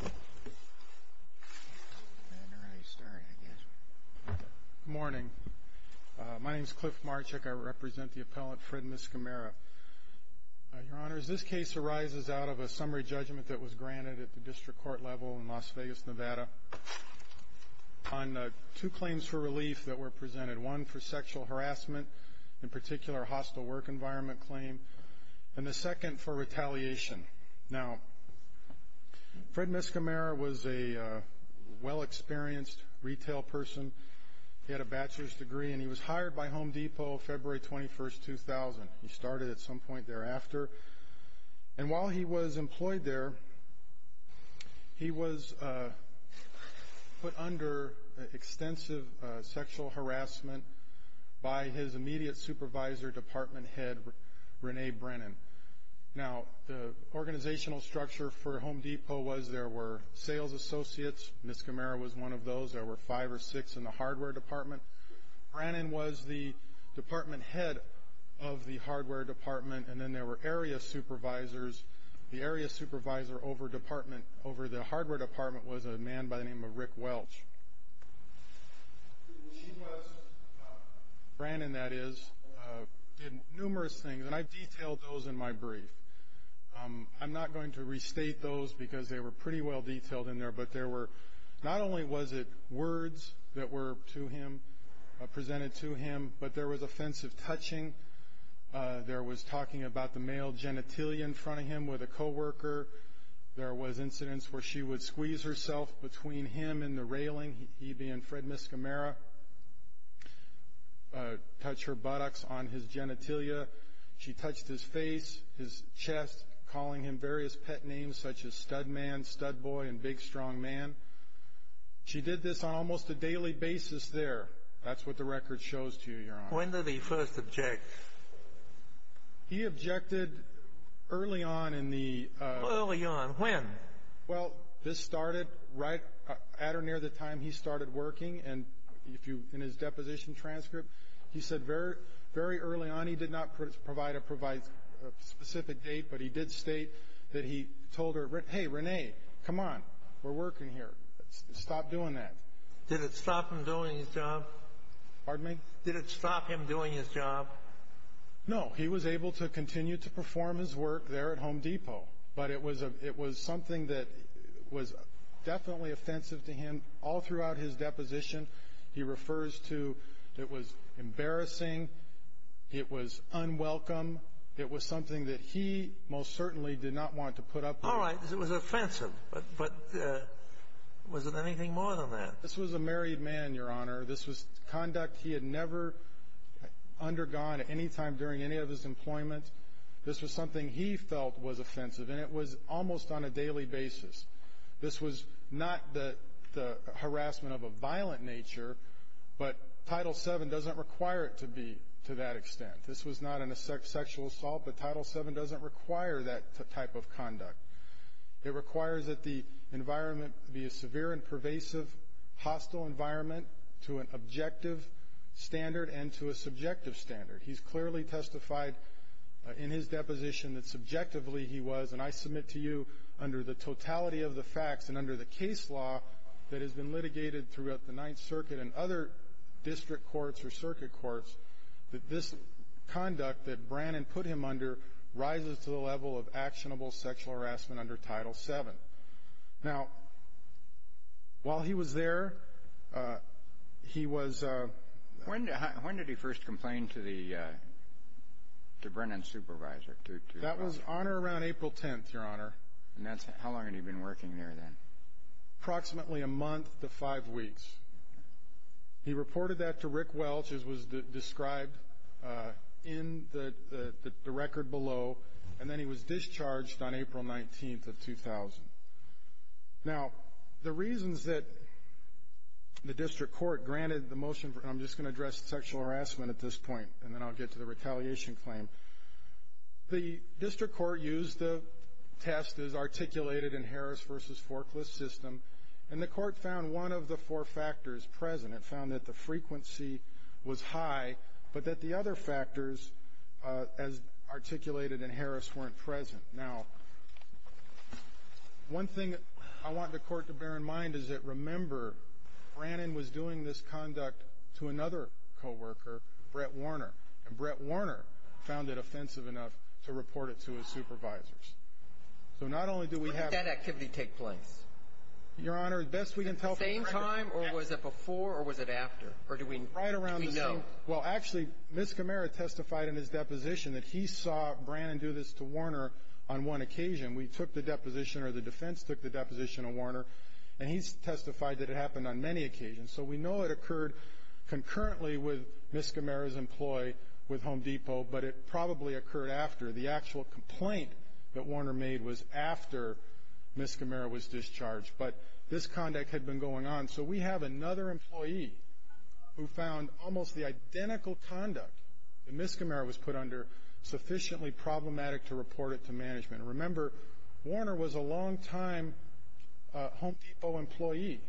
Good morning. My name is Cliff Marchick. I represent the appellant Fred Miscimarra. Your Honors, this case arises out of a summary judgment that was granted at the District Court level in Las Vegas, Nevada on two claims for relief that were presented. One for sexual harassment, in particular a hostile work environment claim, and the second for retaliation. Now, Fred Miscimarra was a well-experienced retail person. He had a bachelor's degree, and he was hired by Home Depot February 21, 2000. He started at some point thereafter. And while he was employed there, he was put under extensive sexual harassment by his immediate supervisor, department head Renee Brennan. Now, the organizational structure for Home Depot was there were sales associates. Miscimarra was one of those. There were five or six in the hardware department. Brennan was the department head of the hardware department, and then there were area supervisors. The area supervisor over the hardware department was a man by the name of Rick Welch. She was, Brennan that is, did numerous things, and I detailed those in my brief. I'm not going to restate those because they were pretty well detailed in there, but there were not only was it words that were to him, presented to him, but there was offensive touching. There was talking about the male genitalia in front of him with a coworker. There was incidents where she would squeeze herself between him and the railing, he being Fred Miscimarra, touch her buttocks on his genitalia. She touched his face, his chest, calling him various pet names such as stud man, stud boy, and big strong man. She did this on almost a daily basis there. That's what the record shows to you, Your Honor. When did he first object? He objected early on in the- Early on, when? Well, this started right at or near the time he started working, and in his deposition transcript, he said very early on. He did not provide a specific date, but he did state that he told her, hey, Renee, come on, we're working here, stop doing that. Did it stop him doing his job? Pardon me? Did it stop him doing his job? No, he was able to continue to perform his work there at Home Depot, but it was something that was definitely offensive to him all throughout his deposition. He refers to it was embarrassing, it was unwelcome, it was something that he most certainly did not want to put up with. All right, it was offensive, but was it anything more than that? This was a married man, Your Honor. This was conduct he had never undergone at any time during any of his employment. This was something he felt was offensive, and it was almost on a daily basis. This was not the harassment of a violent nature, but Title VII doesn't require it to be to that extent. This was not a sexual assault, but Title VII doesn't require that type of conduct. It requires that the environment be a severe and pervasive, hostile environment to an objective standard and to a subjective standard. He's clearly testified in his deposition that subjectively he was, and I submit to you under the totality of the facts and under the case law that has been litigated throughout the Ninth Circuit and other district courts or circuit courts, that this conduct that Brennan put him under rises to the level of actionable sexual harassment under Title VII. Now, while he was there, he was ‑‑ When did he first complain to Brennan's supervisor? That was on or around April 10th, Your Honor. How long had he been working there then? Approximately a month to five weeks. He reported that to Rick Welch, as was described in the record below, and then he was discharged on April 19th of 2000. Now, the reasons that the district court granted the motion for ‑‑ I'm just going to address sexual harassment at this point, and then I'll get to the retaliation claim. The district court used the test as articulated in Harris v. Forklift's system, and the court found one of the four factors present. It found that the frequency was high, but that the other factors, as articulated in Harris, weren't present. Now, one thing I want the court to bear in mind is that, remember, Brennan was doing this conduct to another coworker, Brett Warner, and Brett Warner found it offensive enough to report it to his supervisors. So not only do we have ‑‑ When did that activity take place? Your Honor, best we can tell from the record ‑‑ Was it the same time, or was it before, or was it after? Or do we know? Well, actually, Ms. Camara testified in his deposition that he saw Brennan do this to Warner on one occasion. We took the deposition, or the defense took the deposition of Warner, and he testified that it happened on many occasions. So we know it occurred concurrently with Ms. Camara's employee with Home Depot, but it probably occurred after. The actual complaint that Warner made was after Ms. Camara was discharged, but this conduct had been going on. So we have another employee who found almost the identical conduct that Ms. Camara was put under sufficiently problematic to report it to management. Remember, Warner was a longtime Home Depot employee.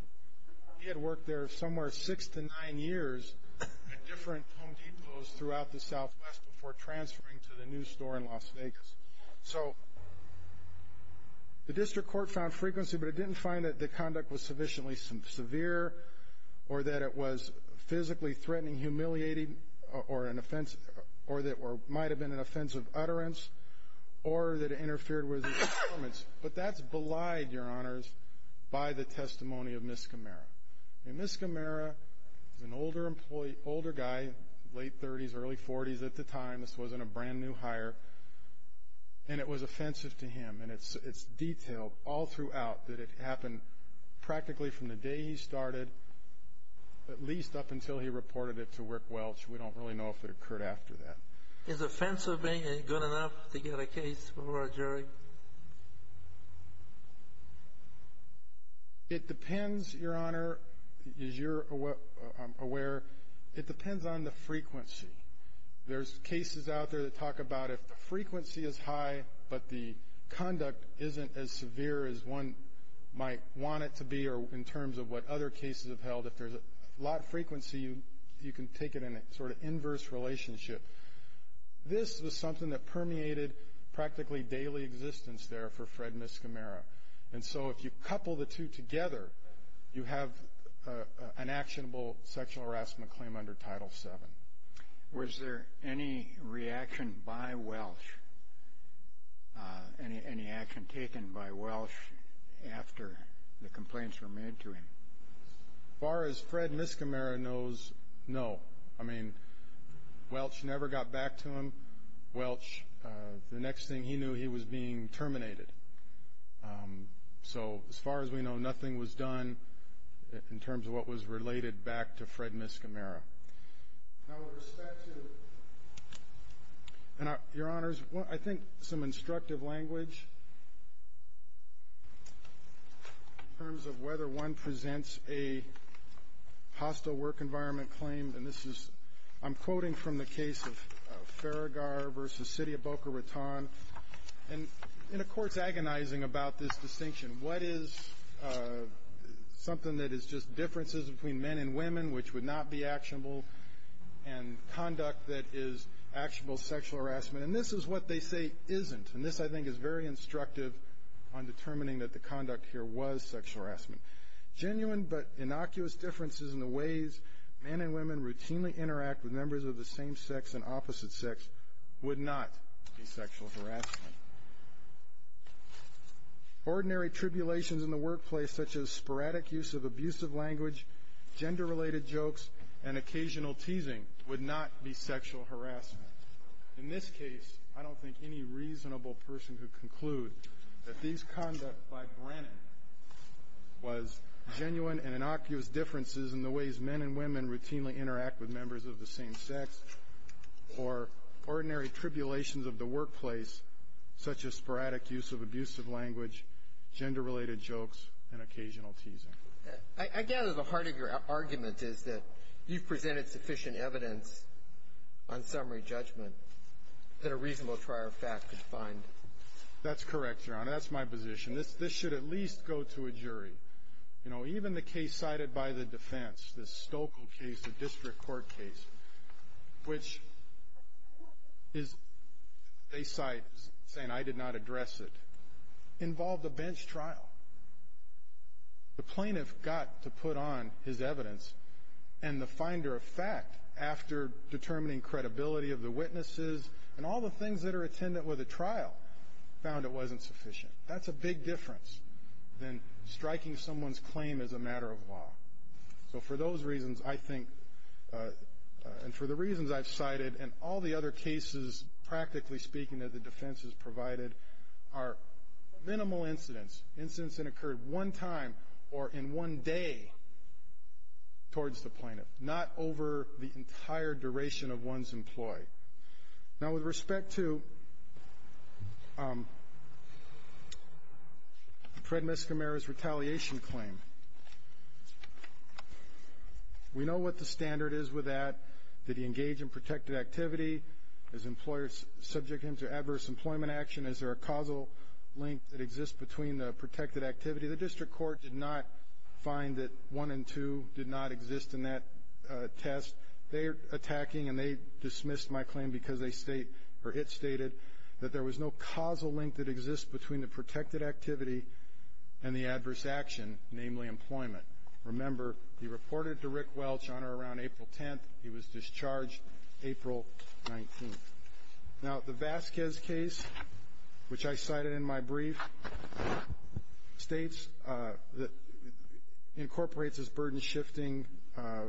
He had worked there somewhere six to nine years at different Home Depots throughout the Southwest before transferring to the new store in Las Vegas. So the district court found frequency, but it didn't find that the conduct was sufficiently severe or that it was physically threatening, humiliating, or that it might have been an offense of utterance or that it interfered with his performance. But that's belied, Your Honors, by the testimony of Ms. Camara. Ms. Camara is an older guy, late 30s, early 40s at the time. This wasn't a brand-new hire, and it was offensive to him. And it's detailed all throughout that it happened practically from the day he started at least up until he reported it to Work Welch. We don't really know if it occurred after that. Is offensive being good enough to get a case for a jury? It depends, Your Honor, as you're aware. It depends on the frequency. There's cases out there that talk about if the frequency is high but the conduct isn't as severe as one might want it to be or in terms of what other cases have held. If there's a lot of frequency, you can take it in a sort of inverse relationship. This was something that permeated practically daily existence there for Fred Ms. Camara. And so if you couple the two together, you have an actionable sexual harassment claim under Title VII. Was there any reaction by Welch, any action taken by Welch after the complaints were made to him? As far as Fred Ms. Camara knows, no. I mean, Welch never got back to him. Welch, the next thing he knew, he was being terminated. So as far as we know, nothing was done in terms of what was related back to Fred Ms. Camara. Now with respect to, Your Honors, I think some instructive language in terms of whether one presents a hostile work environment claim. And this is, I'm quoting from the case of Farragar v. City of Boca Raton. And the Court's agonizing about this distinction. What is something that is just differences between men and women which would not be actionable and conduct that is actionable sexual harassment? And this is what they say isn't. And this, I think, is very instructive on determining that the conduct here was sexual harassment. Genuine but innocuous differences in the ways men and women routinely interact with members of the same sex and opposite sex would not be sexual harassment. Ordinary tribulations in the workplace such as sporadic use of abusive language, gender-related jokes, and occasional teasing would not be sexual harassment. In this case, I don't think any reasonable person could conclude that these conducts by Brannon was genuine and innocuous differences in the ways men and women routinely interact with members of the same sex or ordinary tribulations of the workplace such as sporadic use of abusive language, gender-related jokes, and occasional teasing. I gather the heart of your argument is that you've presented sufficient evidence on summary judgment that a reasonable trial of fact could find. That's correct, Your Honor. That's my position. This should at least go to a jury. You know, even the case cited by the defense, the Stokel case, the district court case, which they cite as saying, I did not address it, involved a bench trial. The plaintiff got to put on his evidence, and the finder of fact, after determining credibility of the witnesses and all the things that are attendant with the trial, found it wasn't sufficient. That's a big difference than striking someone's claim as a matter of law. So for those reasons, I think, and for the reasons I've cited, and all the other cases, practically speaking, that the defense has provided, are minimal incidents, incidents that occurred one time or in one day towards the plaintiff, not over the entire duration of one's employee. Now, with respect to Fred Mescamero's retaliation claim, we know what the standard is with that. Did he engage in protected activity? Is employers subject him to adverse employment action? Is there a causal link that exists between the protected activity? The district court did not find that one and two did not exist in that test. They're attacking, and they dismissed my claim because they state, or it stated, that there was no causal link that exists between the protected activity and the adverse action, namely employment. Remember, he reported to Rick Welch on or around April 10th. He was discharged April 19th. Now, the Vasquez case, which I cited in my brief, states that it incorporates this burden-shifting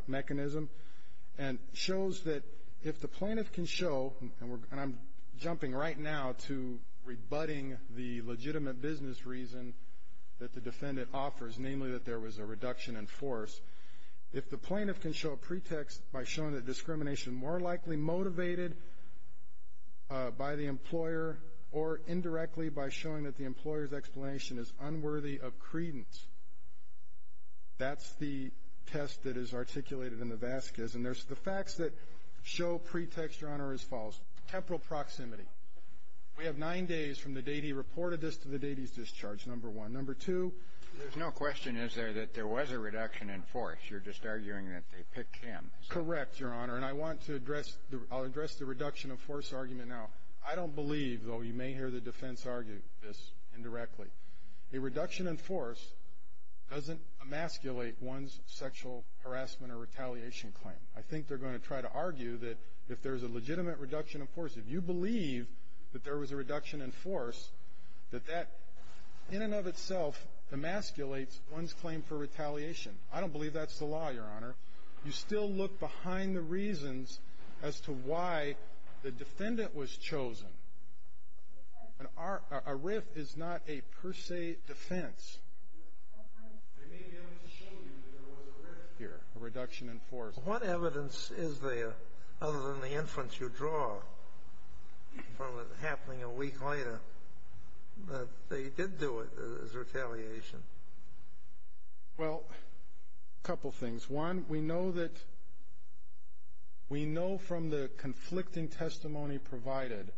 mechanism and shows that if the plaintiff can show, and I'm jumping right now to rebutting the legitimate business reason that the defendant offers, namely that there was a reduction in force, if the plaintiff can show a pretext by showing that discrimination more likely motivated by the employer or indirectly by showing that the employer's explanation is unworthy of credence, that's the test that is articulated in the Vasquez. And there's the facts that show pretext or honor is false. Temporal proximity. We have nine days from the date he reported this to the date he's discharged, number one. Number two? There's no question, is there, that there was a reduction in force. You're just arguing that they picked him. Correct, Your Honor. And I want to address the reduction of force argument now. I don't believe, though you may hear the defense argue this indirectly, a reduction in force doesn't emasculate one's sexual harassment or retaliation claim. I think they're going to try to argue that if there's a legitimate reduction of force, if you believe that there was a reduction in force, that that in and of itself emasculates one's claim for retaliation. I don't believe that's the law, Your Honor. You still look behind the reasons as to why the defendant was chosen. A RIF is not a per se defense. They may be able to show you that there was a RIF here, a reduction in force. What evidence is there, other than the inference you draw from it happening a week later, that they did do it as retaliation? Well, a couple things. One, we know from the conflicting testimony provided,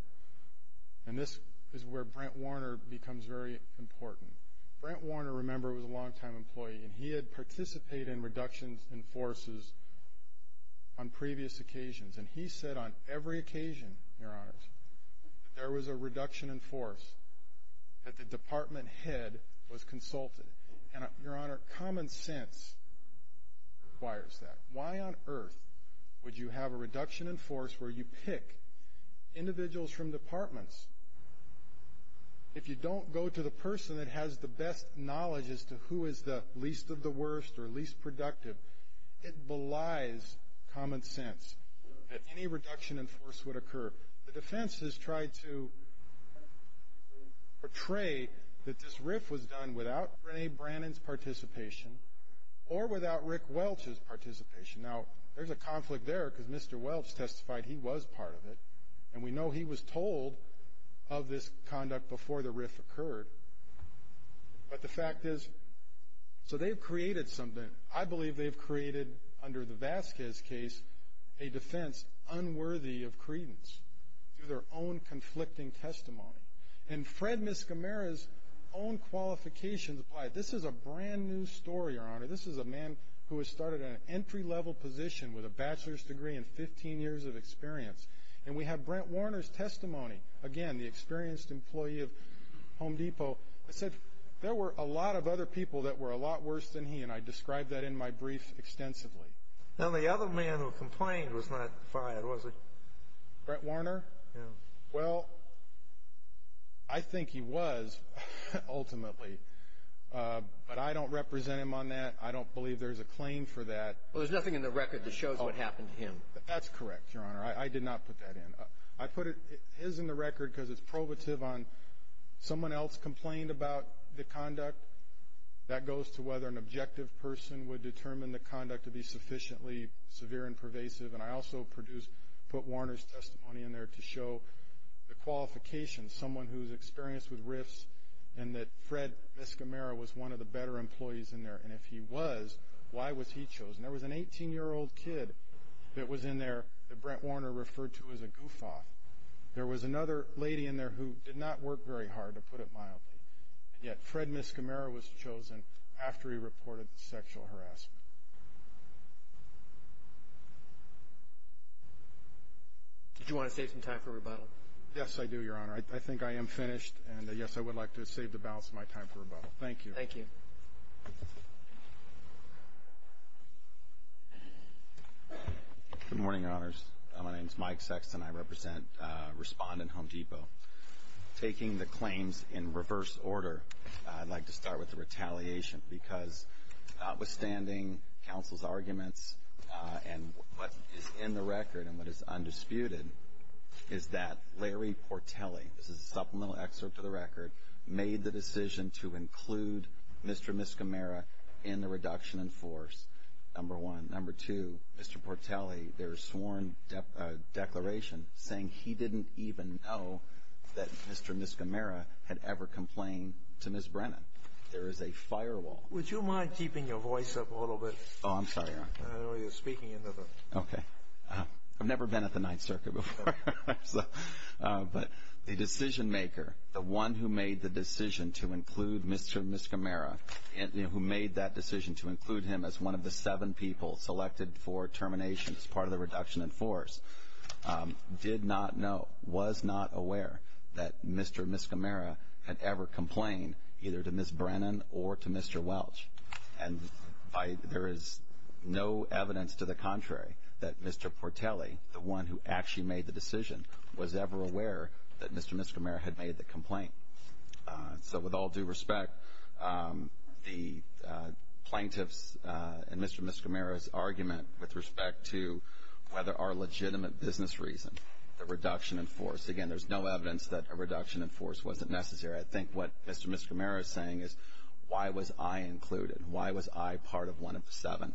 and this is where Brent Warner becomes very important. Brent Warner, remember, was a longtime employee, and he had participated in reductions in forces on previous occasions. And he said on every occasion, Your Honors, that there was a reduction in force, that the department head was consulted. And, Your Honor, common sense requires that. Why on earth would you have a reduction in force where you pick individuals from departments? If you don't go to the person that has the best knowledge as to who is the least of the worst or least productive, it belies common sense that any reduction in force would occur. The defense has tried to portray that this RIF was done without Rene Brannan's participation or without Rick Welch's participation. Now, there's a conflict there because Mr. Welch testified he was part of it, and we know he was told of this conduct before the RIF occurred. But the fact is, so they've created something. I believe they've created, under the Vasquez case, a defense unworthy of credence through their own conflicting testimony. And Fred Miscamara's own qualifications apply. This is a brand-new story, Your Honor. This is a man who has started in an entry-level position with a bachelor's degree and 15 years of experience. And we have Brent Warner's testimony. Again, the experienced employee of Home Depot said there were a lot of other people that were a lot worse than he, and I described that in my brief extensively. Now, the other man who complained was not fired, was he? Brent Warner? Yeah. Well, I think he was, ultimately, but I don't represent him on that. I don't believe there's a claim for that. Well, there's nothing in the record that shows what happened to him. That's correct, Your Honor. I did not put that in. I put his in the record because it's probative on someone else complained about the conduct. That goes to whether an objective person would determine the conduct to be sufficiently severe and pervasive. And I also put Warner's testimony in there to show the qualifications, someone who's experienced with RIFs, and that Fred Miscamara was one of the better employees in there. And if he was, why was he chosen? There was an 18-year-old kid that was in there that Brent Warner referred to as a goof-off. There was another lady in there who did not work very hard, to put it mildly, and yet Fred Miscamara was chosen after he reported the sexual harassment. Did you want to save some time for rebuttal? Yes, I do, Your Honor. I think I am finished, and, yes, I would like to save the balance of my time for rebuttal. Thank you. Thank you. Good morning, Your Honors. My name is Mike Sexton. I represent Respondent Home Depot. Taking the claims in reverse order, I'd like to start with the retaliation because notwithstanding counsel's arguments and what is in the record and what is undisputed is that Larry Portelli, this is a supplemental excerpt to the record, made the decision to include Mr. Miscamara in the reduction in force, number one. Number two, Mr. Portelli, there is sworn declaration saying he didn't even know that Mr. Miscamara had ever complained to Ms. Brennan. There is a firewall. Would you mind keeping your voice up a little bit? Oh, I'm sorry, Your Honor. I know you're speaking into the... Okay. I've never been at the Ninth Circuit before. But the decision maker, the one who made the decision to include Mr. Miscamara, who made that decision to include him as one of the seven people selected for termination as part of the reduction in force, did not know, was not aware, that Mr. Miscamara had ever complained either to Ms. Brennan or to Mr. Welch. And there is no evidence to the contrary that Mr. Portelli, the one who actually made the decision, was ever aware that Mr. Miscamara had made the complaint. So with all due respect, the plaintiff's and Mr. Miscamara's argument with respect to whether our legitimate business reason, the reduction in force, again, there's no evidence that a reduction in force wasn't necessary. I think what Mr. Miscamara is saying is, why was I included? Why was I part of one of the seven?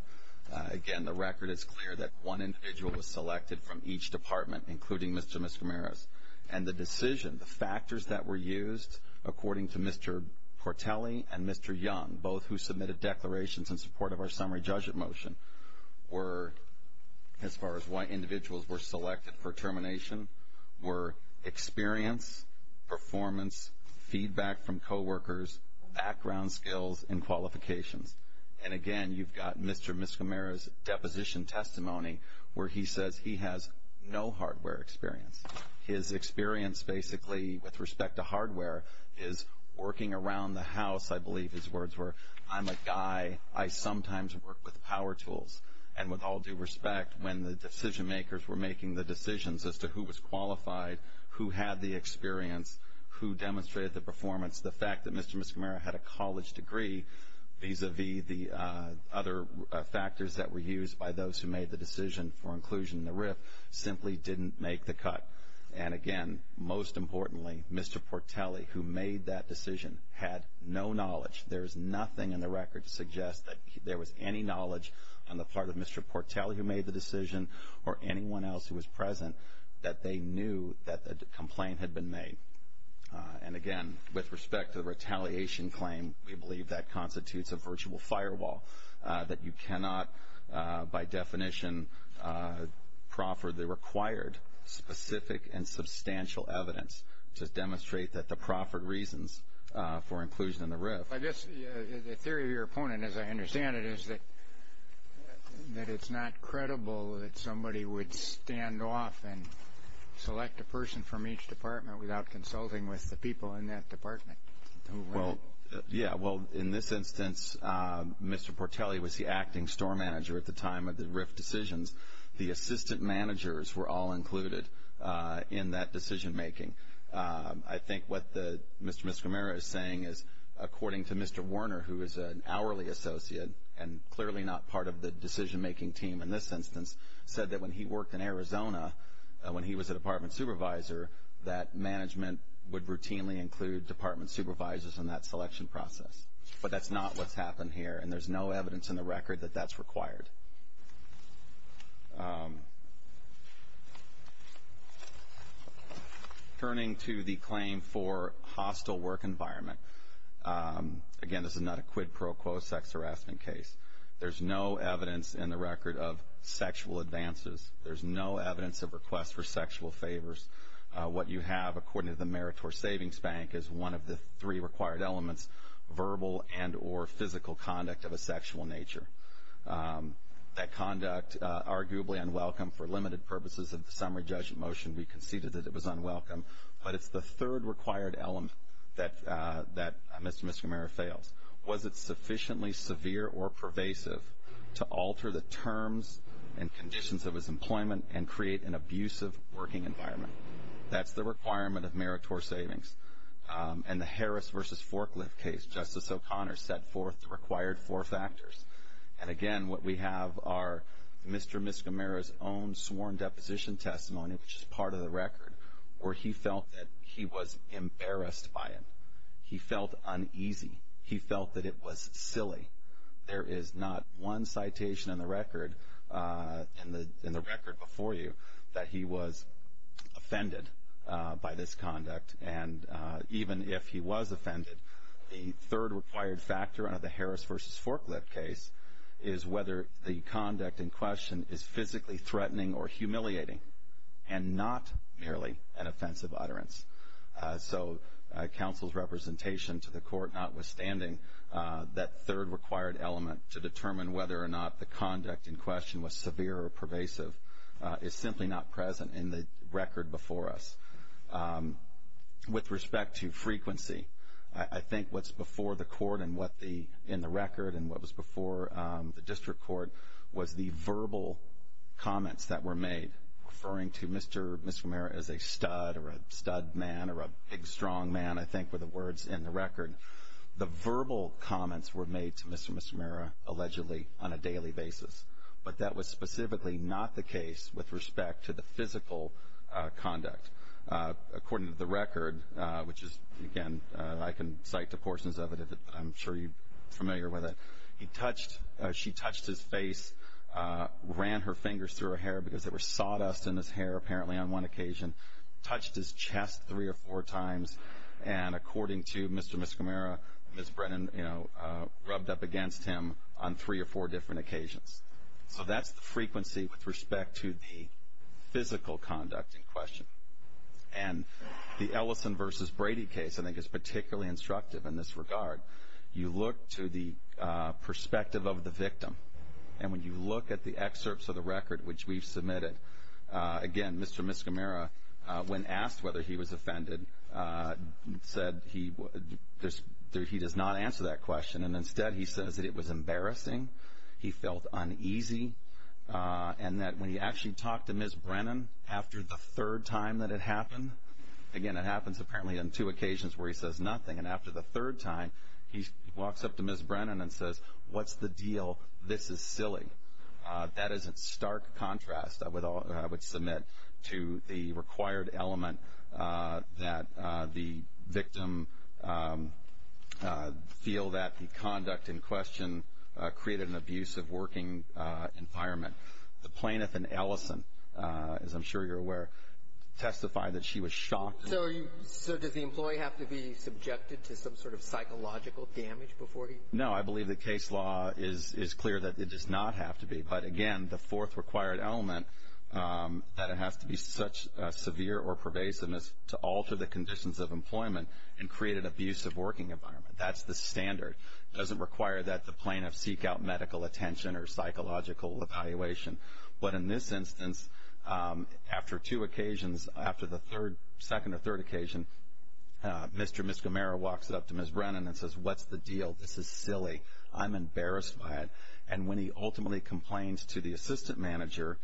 Again, the record is clear that one individual was selected from each department, including Mr. Miscamara's. And the decision, the factors that were used, according to Mr. Portelli and Mr. Young, both who submitted declarations in support of our summary judgment motion, were, as far as why individuals were selected for termination, were experience, performance, feedback from coworkers, background skills, and qualifications. And, again, you've got Mr. Miscamara's deposition testimony where he says he has no hardware experience. His experience, basically, with respect to hardware is working around the house, I believe his words were. I'm a guy. I sometimes work with power tools. And with all due respect, when the decision makers were making the decisions as to who was qualified, who had the experience, who demonstrated the performance, the fact that Mr. Miscamara had a college degree vis-a-vis the other factors that were used by those who made the decision for inclusion in the RIF simply didn't make the cut. And, again, most importantly, Mr. Portelli, who made that decision, had no knowledge. There is nothing in the record to suggest that there was any knowledge on the part of Mr. Portelli who made the decision or anyone else who was present that they knew that the complaint had been made. And, again, with respect to the retaliation claim, we believe that constitutes a virtual firewall, that you cannot by definition proffer the required specific and substantial evidence to demonstrate that the proffered reasons for inclusion in the RIF. I guess the theory of your opponent, as I understand it, is that it's not credible that somebody would stand off and select a person from each department without consulting with the people in that department. Well, yeah. Well, in this instance, Mr. Portelli was the acting store manager at the time of the RIF decisions. The assistant managers were all included in that decision-making. I think what Mr. Miscomero is saying is, according to Mr. Werner, who is an hourly associate and clearly not part of the decision-making team in this instance, said that when he worked in Arizona, when he was a department supervisor, that management would routinely include department supervisors in that selection process. But that's not what's happened here, and there's no evidence in the record that that's required. Turning to the claim for hostile work environment, again, this is not a quid pro quo sex harassment case. There's no evidence in the record of sexual advances. There's no evidence of requests for sexual favors. What you have, according to the Meritor Savings Bank, is one of the three required elements, verbal and or physical conduct of a sexual nature. That conduct, arguably unwelcome for limited purposes of the summary judgment motion. We conceded that it was unwelcome. But it's the third required element that Mr. Miscomero fails. Was it sufficiently severe or pervasive to alter the terms and conditions of his employment and create an abusive working environment? That's the requirement of Meritor Savings. And the Harris v. Forklift case, Justice O'Connor set forth the required four factors. And, again, what we have are Mr. Miscomero's own sworn deposition testimony, which is part of the record, where he felt that he was embarrassed by it. He felt uneasy. He felt that it was silly. There is not one citation in the record before you that he was offended by this conduct. And even if he was offended, the third required factor under the Harris v. Forklift case is whether the conduct in question is physically threatening or humiliating and not merely an offensive utterance. So counsel's representation to the court notwithstanding, that third required element to determine whether or not the conduct in question was severe or pervasive is simply not present in the record before us. With respect to frequency, I think what's before the court in the record and what was before the district court was the verbal comments that were made, referring to Mr. Miscomero as a stud or a stud man or a big, strong man, I think were the words in the record. The verbal comments were made to Mr. Miscomero allegedly on a daily basis, but that was specifically not the case with respect to the physical conduct. According to the record, which is, again, I can cite the portions of it. I'm sure you're familiar with it. She touched his face, ran her fingers through her hair because there was sawdust in his hair apparently on one occasion, touched his chest three or four times, and according to Mr. Miscomero, Ms. Brennan rubbed up against him on three or four different occasions. So that's the frequency with respect to the physical conduct in question. And the Ellison v. Brady case, I think, is particularly instructive in this regard. You look to the perspective of the victim, and when you look at the excerpts of the record, which we've submitted, again, Mr. Miscomero, when asked whether he was offended, said he does not answer that question, and instead he says that it was embarrassing, he felt uneasy, and that when he actually talked to Ms. Brennan after the third time that it happened, again, it happens apparently on two occasions where he says nothing, and after the third time he walks up to Ms. Brennan and says, what's the deal? This is silly. That is in stark contrast, I would submit, to the required element that the victim feel that the conduct in question created an abusive working environment. The plaintiff in Ellison, as I'm sure you're aware, testified that she was shocked. So does the employee have to be subjected to some sort of psychological damage before he? No, I believe the case law is clear that it does not have to be. But, again, the fourth required element, that it has to be such severe or pervasiveness to alter the conditions of employment and create an abusive working environment, that's the standard. It doesn't require that the plaintiff seek out medical attention or psychological evaluation. But in this instance, after two occasions, after the second or third occasion, Mr. and Ms. Gamera walks up to Ms. Brennan and says, what's the deal? This is silly. I'm embarrassed by it. And when he ultimately complains to the assistant manager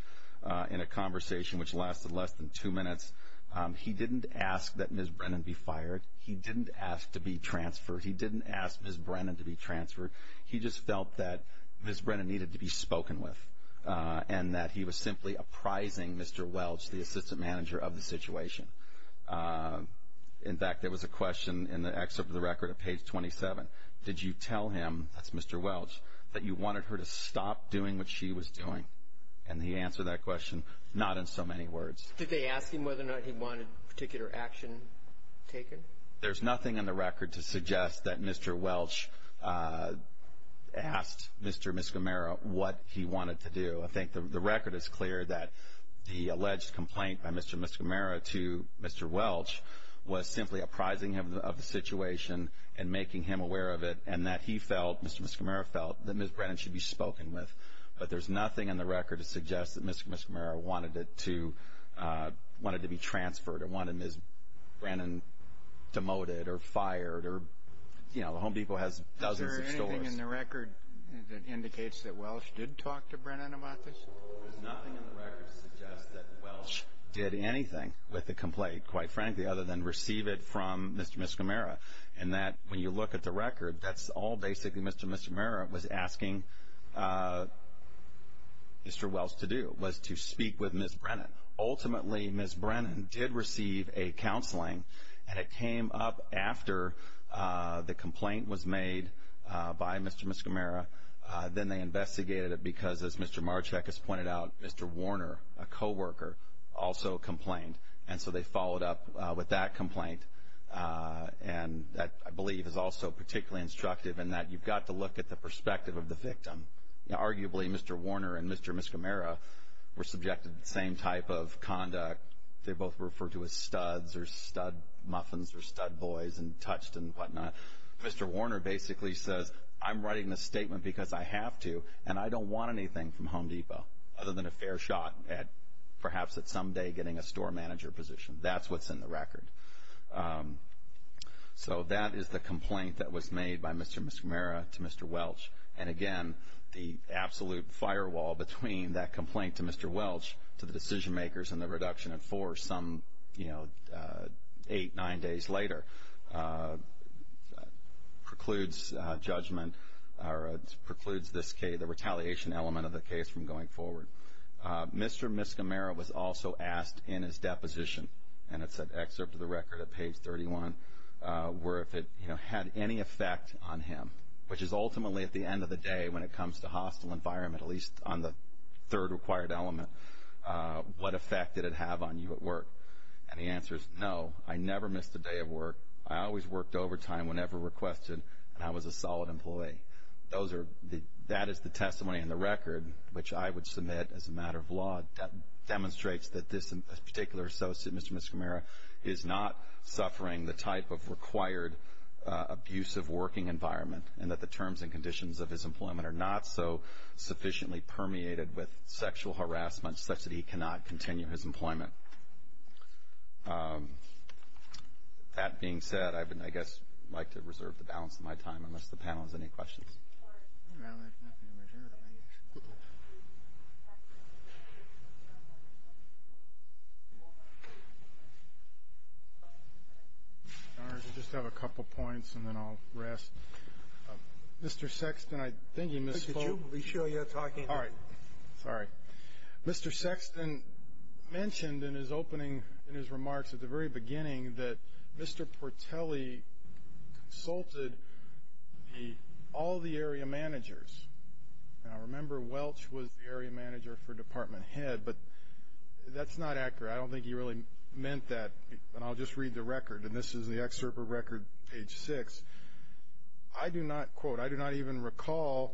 in a conversation which lasted less than two minutes, he didn't ask that Ms. Brennan be fired. He didn't ask to be transferred. He didn't ask Ms. Brennan to be transferred. He just felt that Ms. Brennan needed to be spoken with and that he was simply apprising Mr. Welch, the assistant manager, of the situation. In fact, there was a question in the excerpt of the record at page 27. Did you tell him, that's Mr. Welch, that you wanted her to stop doing what she was doing? And he answered that question, not in so many words. Did they ask him whether or not he wanted particular action taken? There's nothing in the record to suggest that Mr. Welch asked Mr. and Ms. Gamera what he wanted to do. I think the record is clear that the alleged complaint by Mr. and Ms. Gamera to Mr. Welch was simply apprising of the situation and making him aware of it and that he felt, Mr. and Ms. Gamera felt, that Ms. Brennan should be spoken with. But there's nothing in the record to suggest that Mr. and Ms. Gamera wanted to be transferred or wanted Ms. Brennan demoted or fired or, you know, the Home Depot has dozens of stores. Is there anything in the record that indicates that Welch did talk to Brennan about this? There's nothing in the record to suggest that Welch did anything with the complaint, quite frankly, other than receive it from Mr. and Ms. Gamera, and that when you look at the record, that's all basically Mr. and Ms. Gamera was asking Mr. Welch to do, was to speak with Ms. Brennan. Brennan did receive a counseling, and it came up after the complaint was made by Mr. and Ms. Gamera. Then they investigated it because, as Mr. Marchek has pointed out, Mr. Warner, a co-worker, also complained. And so they followed up with that complaint. And that, I believe, is also particularly instructive in that you've got to look at the perspective of the victim. Arguably, Mr. Warner and Mr. and Ms. Gamera were subjected to the same type of conduct. They both were referred to as studs or stud muffins or stud boys and touched and whatnot. Mr. Warner basically says, I'm writing this statement because I have to, and I don't want anything from Home Depot other than a fair shot at perhaps someday getting a store manager position. That's what's in the record. So that is the complaint that was made by Mr. and Ms. Gamera to Mr. Welch. And, again, the absolute firewall between that complaint to Mr. Welch, to the decision makers and the reduction in force some eight, nine days later precludes judgment or precludes the retaliation element of the case from going forward. Mr. and Ms. Gamera was also asked in his deposition, and it's an excerpt of the record at page 31, where if it had any effect on him, which is ultimately at the end of the day when it comes to hostile environment, at least on the third required element, what effect did it have on you at work? And the answer is no. I never missed a day of work. I always worked overtime whenever requested, and I was a solid employee. That is the testimony in the record, which I would submit as a matter of law. That demonstrates that this particular associate, Mr. and Ms. Gamera, is not suffering the type of required abusive working environment and that the terms and conditions of his employment are not so sufficiently permeated with sexual harassment such that he cannot continue his employment. That being said, I would, I guess, like to reserve the balance of my time unless the panel has any questions. All right. I just have a couple points and then I'll rest. Mr. Sexton, I think you misspoke. Could you be sure you're talking? All right. Sorry. Mr. Sexton mentioned in his opening, in his remarks at the very beginning, that Mr. Portelli consulted all the area managers. And I remember Welch was the area manager for department head, but that's not accurate. I don't think he really meant that. And I'll just read the record, and this is the excerpt of record page six. I do not, quote, I do not even recall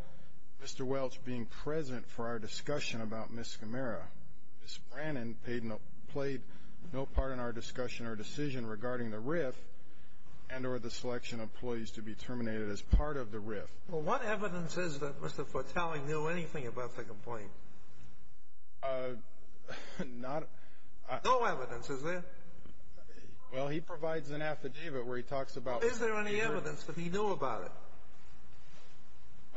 Mr. Welch being present for our discussion about Ms. Gamera. Ms. Brannon played no part in our discussion or decision regarding the RIF and or the selection of employees to be terminated as part of the RIF. Well, what evidence is that Mr. Portelli knew anything about the complaint? Not. No evidence, is there? Well, he provides an affidavit where he talks about. Is there any evidence that he knew about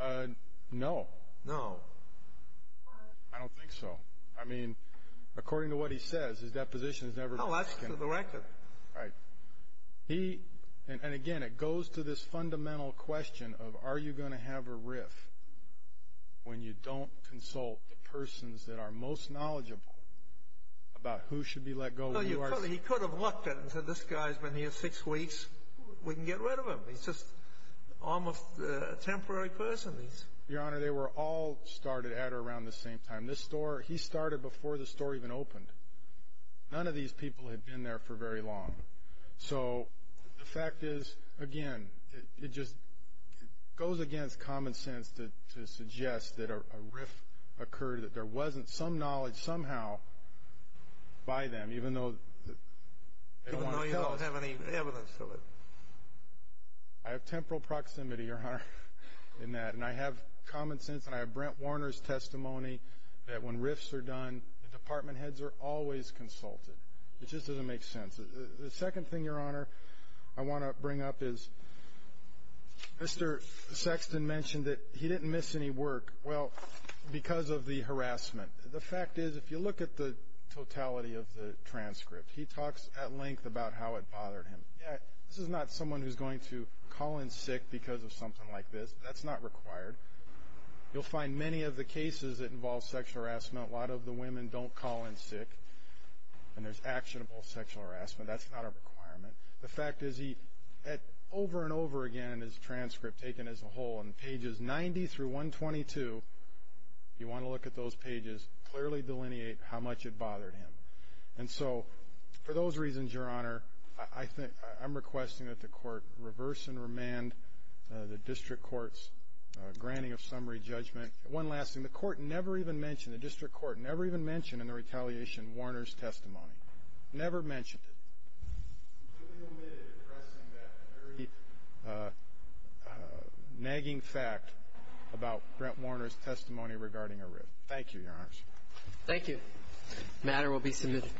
it? No. No. I don't think so. I mean, according to what he says, his deposition has never been taken. No, that's to the record. Right. He, and again, it goes to this fundamental question of are you going to have a RIF when you don't consult the persons that are most knowledgeable about who should be let go. No, he could have looked at it and said, this guy's been here six weeks. We can get rid of him. He's just almost a temporary person. Your Honor, they were all started at or around the same time. This store, he started before the store even opened. None of these people had been there for very long. So the fact is, again, it just goes against common sense to suggest that a RIF occurred, that there wasn't some knowledge somehow by them, even though they wanted help. Even though you don't have any evidence of it. I have temporal proximity, Your Honor, in that. And I have common sense and I have Brent Warner's testimony that when RIFs are done, the department heads are always consulted. It just doesn't make sense. The second thing, Your Honor, I want to bring up is Mr. Sexton mentioned that he didn't miss any work. Well, because of the harassment. The fact is, if you look at the totality of the transcript, he talks at length about how it bothered him. Yeah, this is not someone who's going to call in sick because of something like this. That's not required. You'll find many of the cases that involve sexual harassment, a lot of the women don't call in sick. And there's actionable sexual harassment. That's not a requirement. The fact is, over and over again in his transcript, taken as a whole, in pages 90 through 122, if you want to look at those pages, clearly delineate how much it bothered him. And so for those reasons, Your Honor, I'm requesting that the court reverse and remand the district court's granting of summary judgment. One last thing. The court never even mentioned, the district court never even mentioned in the retaliation Warner's testimony. Never mentioned it. Do we omit addressing that very nagging fact about Brent Warner's testimony regarding a RIF? Thank you, Your Honor. Thank you. The matter will be submitted.